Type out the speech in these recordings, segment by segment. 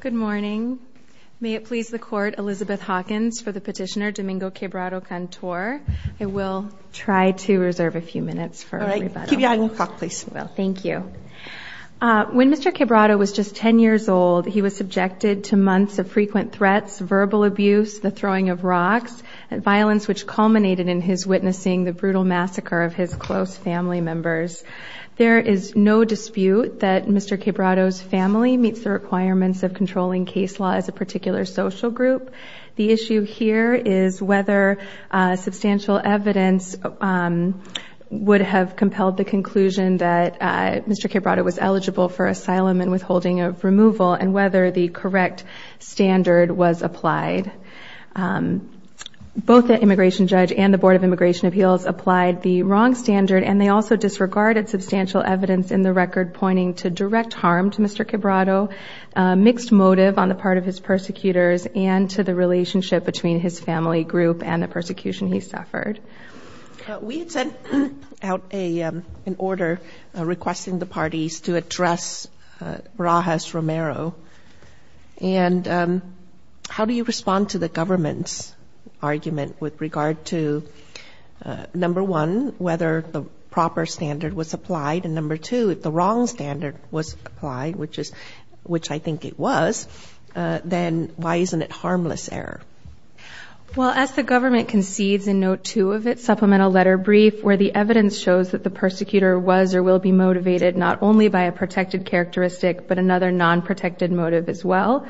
Good morning. May it please the Court, Elizabeth Hawkins for the petitioner Domingo Quebrado-Cantor. I will try to reserve a few minutes for a rebuttal. All right. Keep your eye on the clock, please. I will. Thank you. When Mr. Quebrado was just 10 years old, he was subjected to months of frequent threats, verbal abuse, the throwing of rocks, and violence which culminated in his witnessing the brutal massacre of his close family members. There is no dispute that Mr. Quebrado's family meets the requirements of controlling case law as a particular social group. The issue here is whether substantial evidence would have compelled the conclusion that Mr. Quebrado was eligible for asylum and withholding of removal and whether the correct standard was applied. Both the immigration judge and the Board of Immigration Appeals applied the wrong standard and they also disregarded substantial evidence in the record pointing to direct harm to Mr. Quebrado, mixed motive on the part of his persecutors, and to the relationship between his family group and the persecution he suffered. We had sent out an order requesting the parties to address Barajas Romero. And how do you respond to the government's argument with regard to, number one, whether the proper standard was applied, and number two, if the wrong standard was applied, which I think it was, then why isn't it harmless error? Well, as the government concedes in note two of its supplemental letter brief, where the evidence shows that the persecutor was or will be motivated not only by a protected characteristic but another non-protected motive as well,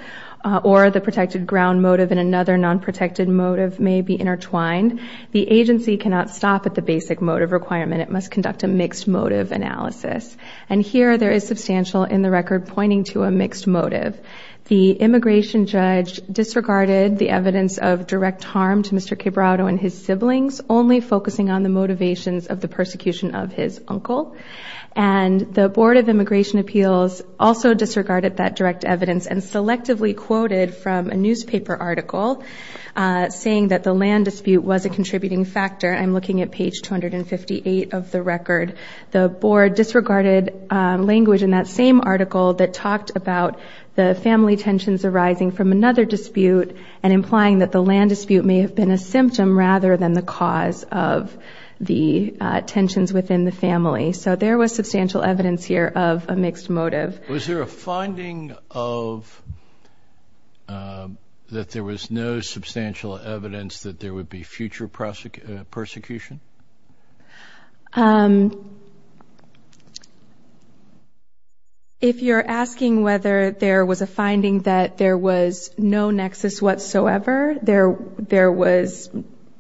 or the protected ground motive and another non-protected motive may be intertwined, the agency cannot stop at the basic motive requirement. It must conduct a mixed motive analysis. And here there is substantial in the record pointing to a mixed motive. The immigration judge disregarded the evidence of direct harm to Mr. Quebrado and his siblings, only focusing on the motivations of the persecution of his uncle. And the Board of Immigration Appeals also disregarded that direct evidence and selectively quoted from a newspaper article saying that the land dispute was a contributing factor. I'm looking at page 258 of the record. The board disregarded language in that same article that talked about the family tensions arising from another dispute and implying that the land dispute may have been a symptom rather than the cause of the tensions within the family. So there was substantial evidence here of a mixed motive. Was there a finding of that there was no substantial evidence that there would be future persecution? If you're asking whether there was a finding that there was no nexus whatsoever, there was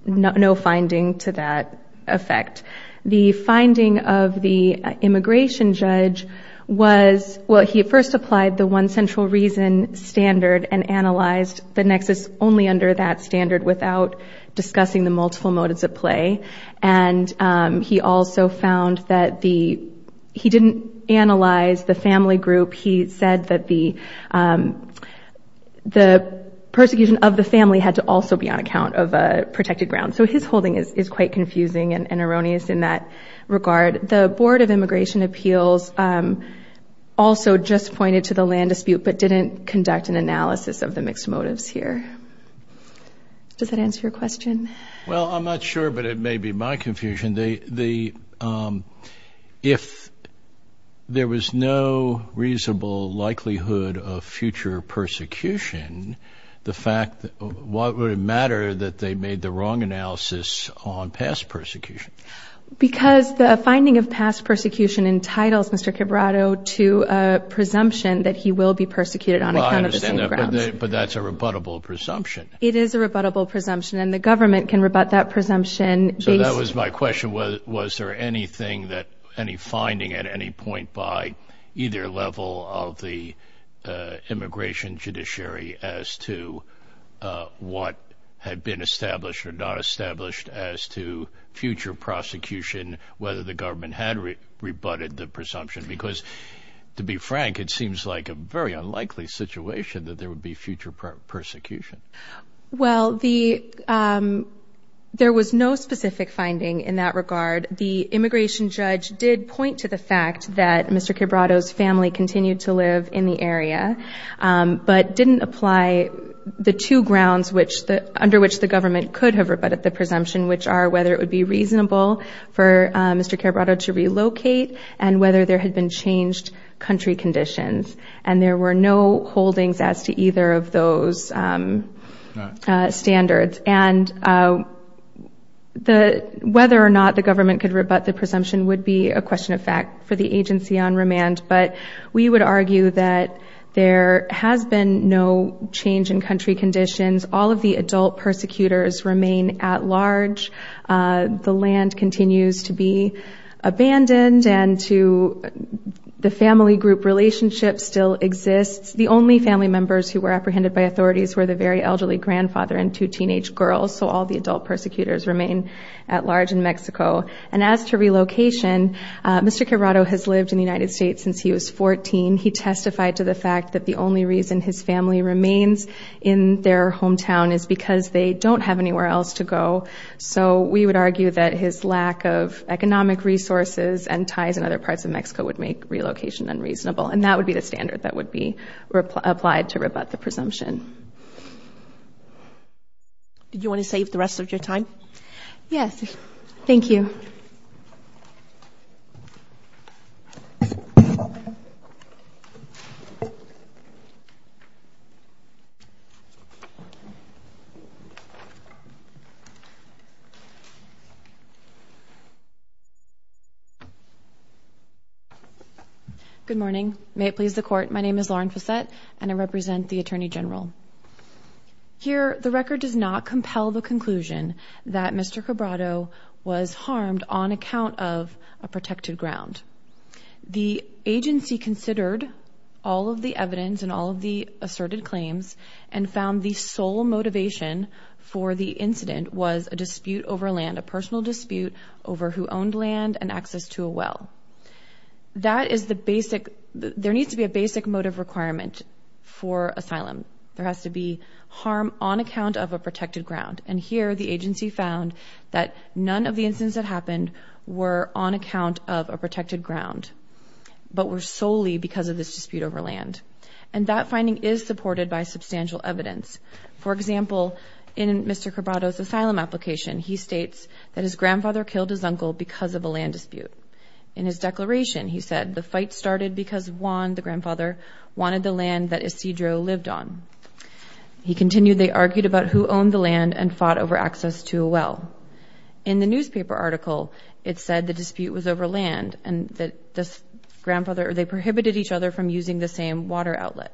no finding to that effect. The finding of the immigration judge was, well, he first applied the one central reason standard and analyzed the nexus only under that standard without discussing the multiple motives at play. And he also found that he didn't analyze the family group. He said that the persecution of the family had to also be on account of a protected ground. So his holding is quite confusing and erroneous in that regard. The Board of Immigration Appeals also just pointed to the land dispute but didn't conduct an analysis of the mixed motives here. Does that answer your question? Well, I'm not sure, but it may be my confusion. If there was no reasonable likelihood of future persecution, what would it matter that they made the wrong analysis on past persecution? Because the finding of past persecution entitles Mr. Cabrado to a presumption that he will be persecuted on account of the same grounds. But that's a rebuttable presumption. It is a rebuttable presumption, and the government can rebut that presumption. So that was my question. Was there any finding at any point by either level of the immigration judiciary as to what had been established or not established as to future prosecution, whether the government had rebutted the presumption? Because, to be frank, it seems like a very unlikely situation that there would be future persecution. Well, there was no specific finding in that regard. The immigration judge did point to the fact that Mr. Cabrado's family continued to live in the area but didn't apply the two grounds under which the government could have rebutted the presumption, which are whether it would be reasonable for Mr. Cabrado to relocate and whether there had been changed country conditions. And there were no holdings as to either of those standards. And whether or not the government could rebut the presumption would be a question of fact for the agency on remand. But we would argue that there has been no change in country conditions. All of the adult persecutors remain at large. The land continues to be abandoned, and the family group relationship still exists. The only family members who were apprehended by authorities were the very elderly grandfather and two teenage girls, so all the adult persecutors remain at large in Mexico. And as to relocation, Mr. Cabrado has lived in the United States since he was 14. He testified to the fact that the only reason his family remains in their hometown is because they don't have anywhere else to go. So we would argue that his lack of economic resources and ties in other parts of Mexico would make relocation unreasonable. And that would be the standard that would be applied to rebut the presumption. Did you want to save the rest of your time? Yes. Thank you. Good morning. May it please the Court, my name is Lauren Fassette, and I represent the Attorney General. Here, the record does not compel the conclusion that Mr. Cabrado was harmed on account of a protected ground. The agency considered all of the evidence and all of the asserted claims and found the sole motivation for the incident was a dispute over land, a personal dispute over who owned land and access to a well. There needs to be a basic motive requirement for asylum. There has to be harm on account of a protected ground. And here, the agency found that none of the incidents that happened were on account of a protected ground but were solely because of this dispute over land. And that finding is supported by substantial evidence. For example, in Mr. Cabrado's asylum application, he states that his grandfather killed his uncle because of a land dispute. In his declaration, he said the fight started because Juan, the grandfather, wanted the land that Isidro lived on. He continued they argued about who owned the land and fought over access to a well. In the newspaper article, it said the dispute was over land and that they prohibited each other from using the same water outlet.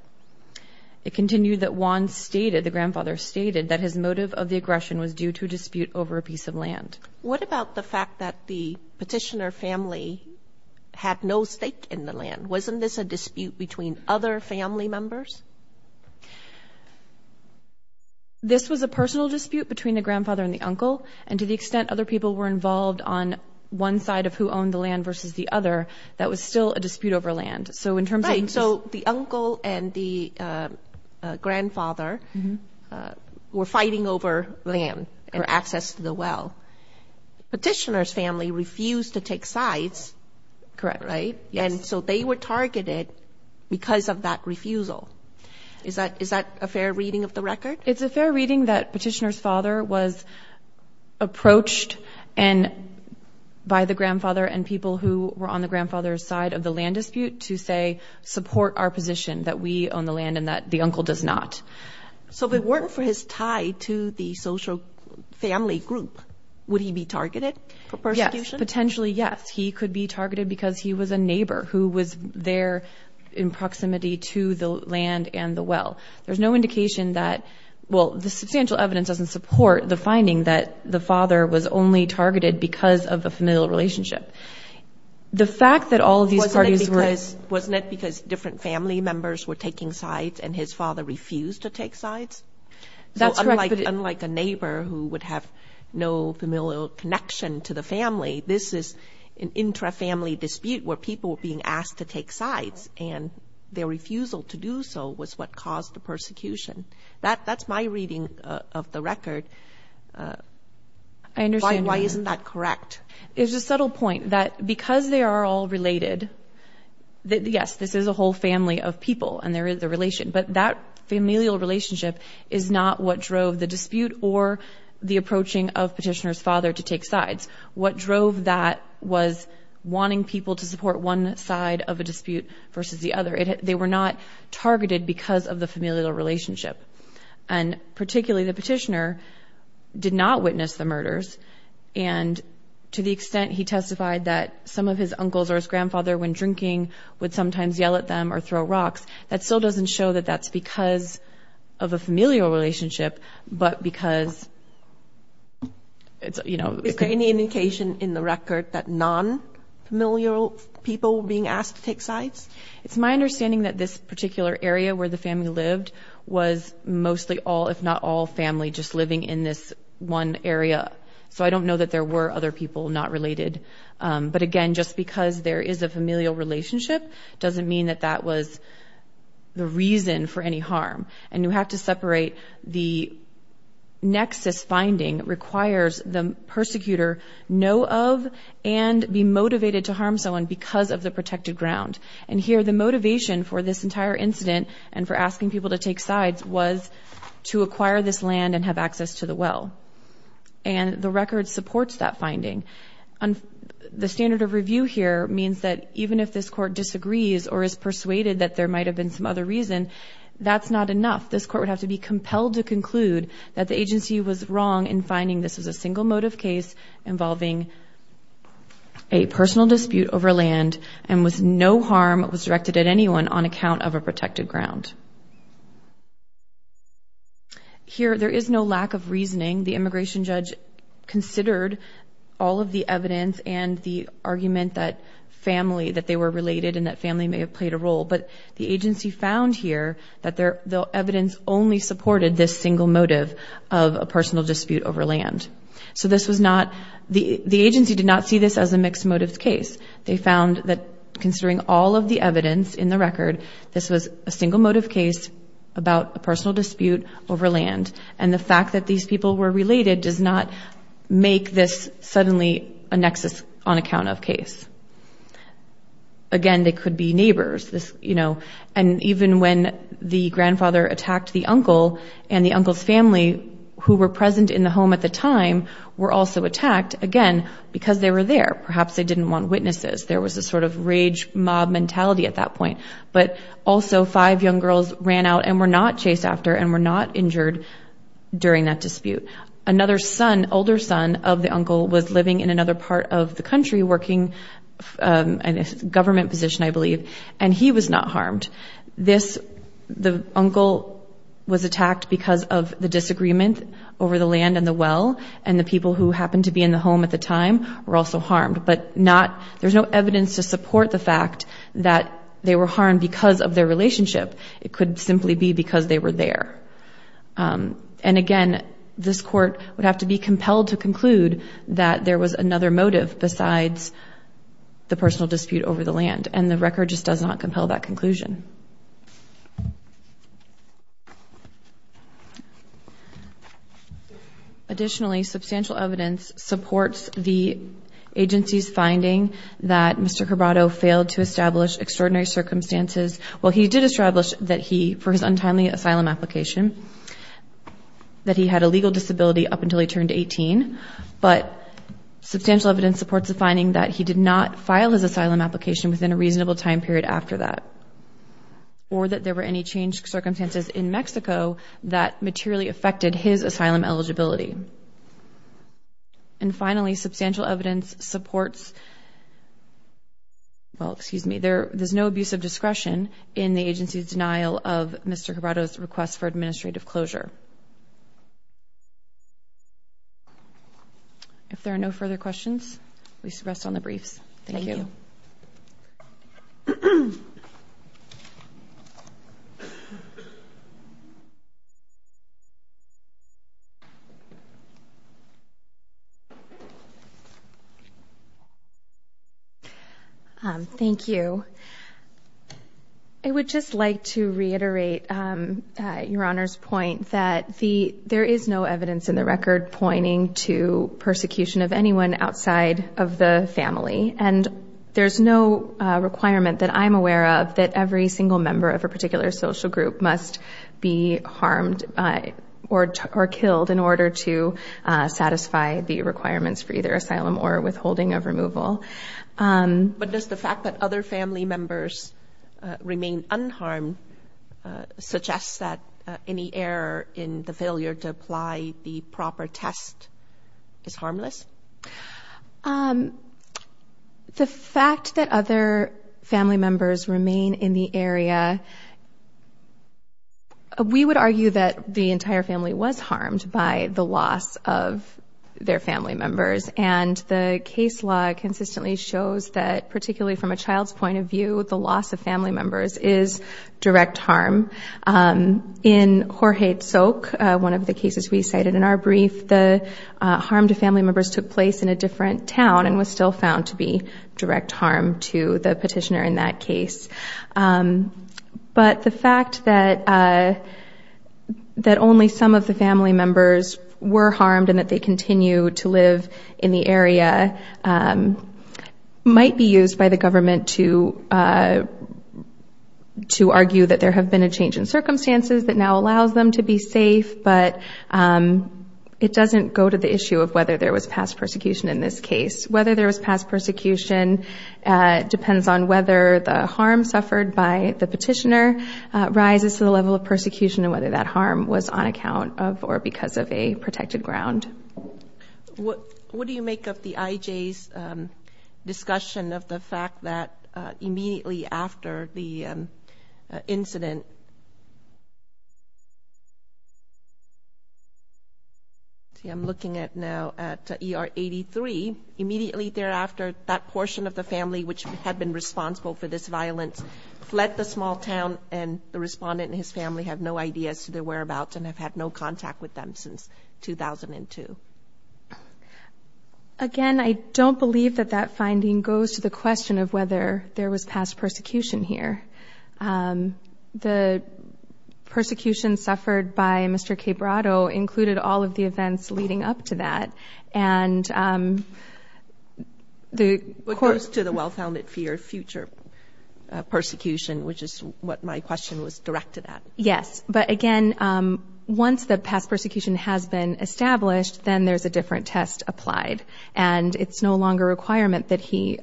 It continued that Juan stated, the grandfather stated, that his motive of the aggression was due to a dispute over a piece of land. What about the fact that the petitioner family had no stake in the land? Wasn't this a dispute between other family members? This was a personal dispute between the grandfather and the uncle, and to the extent other people were involved on one side of who owned the land versus the other, that was still a dispute over land. So the uncle and the grandfather were fighting over land or access to the well. Petitioner's family refused to take sides. Correct. And so they were targeted because of that refusal. Is that a fair reading of the record? It's a fair reading that petitioner's father was approached by the grandfather and people who were on the grandfather's side of the land dispute to say, support our position that we own the land and that the uncle does not. So if it weren't for his tie to the social family group, would he be targeted for persecution? Yes, potentially, yes. He could be targeted because he was a neighbor who was there in proximity to the land and the well. There's no indication that the substantial evidence doesn't support the finding that the father was only targeted because of a familial relationship. The fact that all of these parties were... Wasn't it because different family members were taking sides and his father refused to take sides? That's correct. Unlike a neighbor who would have no familial connection to the family, this is an intra-family dispute where people were being asked to take sides, and their refusal to do so was what caused the persecution. That's my reading of the record. I understand. Why isn't that correct? It's a subtle point that because they are all related... Yes, this is a whole family of people and there is a relation, but that familial relationship is not what drove the dispute or the approaching of petitioner's father to take sides. What drove that was wanting people to support one side of a dispute versus the other. They were not targeted because of the familial relationship, and particularly the petitioner did not witness the murders, and to the extent he testified that some of his uncles or his grandfather when drinking would sometimes yell at them or throw rocks, that still doesn't show that that's because of a familial relationship, but because... Is there any indication in the record that non-familial people were being asked to take sides? It's my understanding that this particular area where the family lived was mostly all, if not all, family just living in this one area, so I don't know that there were other people not related. But again, just because there is a familial relationship doesn't mean that that was the reason for any harm, and you have to separate the nexus finding requires the persecutor know of and be motivated to harm someone because of the protected ground. And here the motivation for this entire incident and for asking people to take sides was to acquire this land and have access to the well, and the record supports that finding. The standard of review here means that even if this court disagrees or is persuaded that there might have been some other reason, that's not enough. This court would have to be compelled to conclude that the agency was wrong in finding this was a single motive case involving a personal dispute over land and was no harm was directed at anyone on account of a protected ground. Here there is no lack of reasoning. The immigration judge considered all of the evidence and the argument that family, that they were related and that family may have played a role, but the agency found here that the evidence only supported this single motive of a personal dispute over land. So this was not, the agency did not see this as a mixed motives case. They found that considering all of the evidence in the record, this was a single motive case about a personal dispute over land, and the fact that these people were related does not make this suddenly a nexus on account of case. Again, they could be neighbors, you know, and even when the grandfather attacked the uncle, and the uncle's family who were present in the home at the time were also attacked, again, because they were there. Perhaps they didn't want witnesses. There was a sort of rage mob mentality at that point, but also five young girls ran out and were not chased after and were not injured during that dispute. Another son, older son of the uncle was living in another part of the country working in a government position, I believe, and he was not harmed. This, the uncle was attacked because of the disagreement over the land and the well, and the people who happened to be in the home at the time were also harmed, but not, there's no evidence to support the fact that they were harmed because of their relationship. It could simply be because they were there. And again, this court would have to be compelled to conclude that there was another motive besides the personal dispute over the land, and the record just does not compel that conclusion. Additionally, substantial evidence supports the agency's finding that Mr. Carbado failed to establish extraordinary circumstances. Well, he did establish that he, for his untimely asylum application, that he had a legal disability up until he turned 18, but substantial evidence supports the finding that he did not file his asylum application within a reasonable time period after that, or that there were any changed circumstances in Mexico that materially affected his asylum eligibility. And finally, substantial evidence supports, well, excuse me, there's no abuse of discretion in the agency's denial of Mr. Carbado's request for administrative closure. If there are no further questions, please rest on the briefs. Thank you. Thank you. Thank you. I would just like to reiterate Your Honor's point that there is no evidence in the record pointing to persecution of anyone outside of the family. And there's no requirement that I'm aware of that every single member of a particular social group must be harmed or killed in order to satisfy the requirements for either asylum or withholding of removal. But does the fact that other family members remain unharmed suggest that any error in the failure to apply the proper test is harmless? The fact that other family members remain in the area, we would argue that the entire family was harmed by the loss of their family members. And the case law consistently shows that, particularly from a child's point of view, the loss of family members is direct harm. In Jorge Tsok, one of the cases we cited in our brief, the harm to family members took place in a different town and was still found to be direct harm to the petitioner in that case. But the fact that only some of the family members were harmed and that they continue to live in the area might be used by the government to argue that there have been a change in circumstances that now allows them to be safe, but it doesn't go to the issue of whether there was past persecution in this case. Whether there was past persecution depends on whether the harm suffered by the petitioner arises to the level of persecution and whether that harm was on account of or because of a protected ground. What do you make of the IJ's discussion of the fact that immediately after the incident? See, I'm looking at now at ER 83. Immediately thereafter, that portion of the family which had been responsible for this violence fled the small town and the respondent and his family have no idea as to their whereabouts and have had no contact with them since 2002. Again, I don't believe that that finding goes to the question of whether there was past persecution here. The persecution suffered by Mr. Quebrado included all of the events leading up to that. What goes to the well-founded fear of future persecution, which is what my question was directed at? Yes, but again, once the past persecution has been established, then there's a different test applied, and it's no longer a requirement that he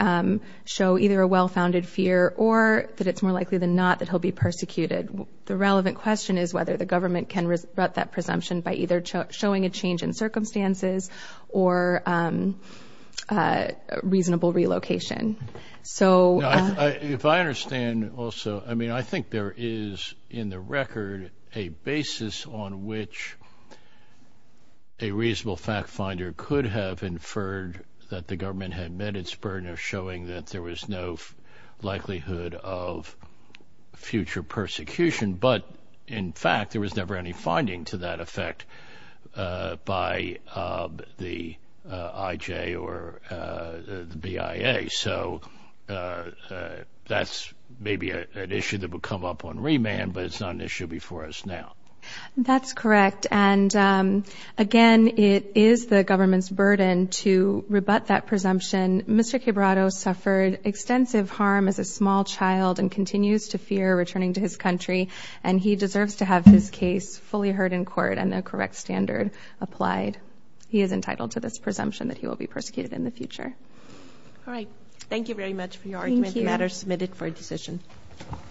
show either a well-founded fear or that it's more likely than not that he'll be persecuted. The relevant question is whether the government can rebut that presumption by either showing a change in circumstances or reasonable relocation. If I understand also, I mean, I think there is in the record a basis on which a reasonable fact finder could have inferred that the government had met its burden of showing that there was no likelihood of future persecution, but in fact there was never any finding to that effect by the IJ or the BIA. So that's maybe an issue that would come up on remand, but it's not an issue before us now. That's correct, and again, it is the government's burden to rebut that presumption. Mr. Quebrado suffered extensive harm as a small child and continues to fear returning to his country, and he deserves to have his case fully heard in court and the correct standard applied. He is entitled to this presumption that he will be persecuted in the future. All right, thank you very much for your argument. Thank you. The matter is submitted for decision.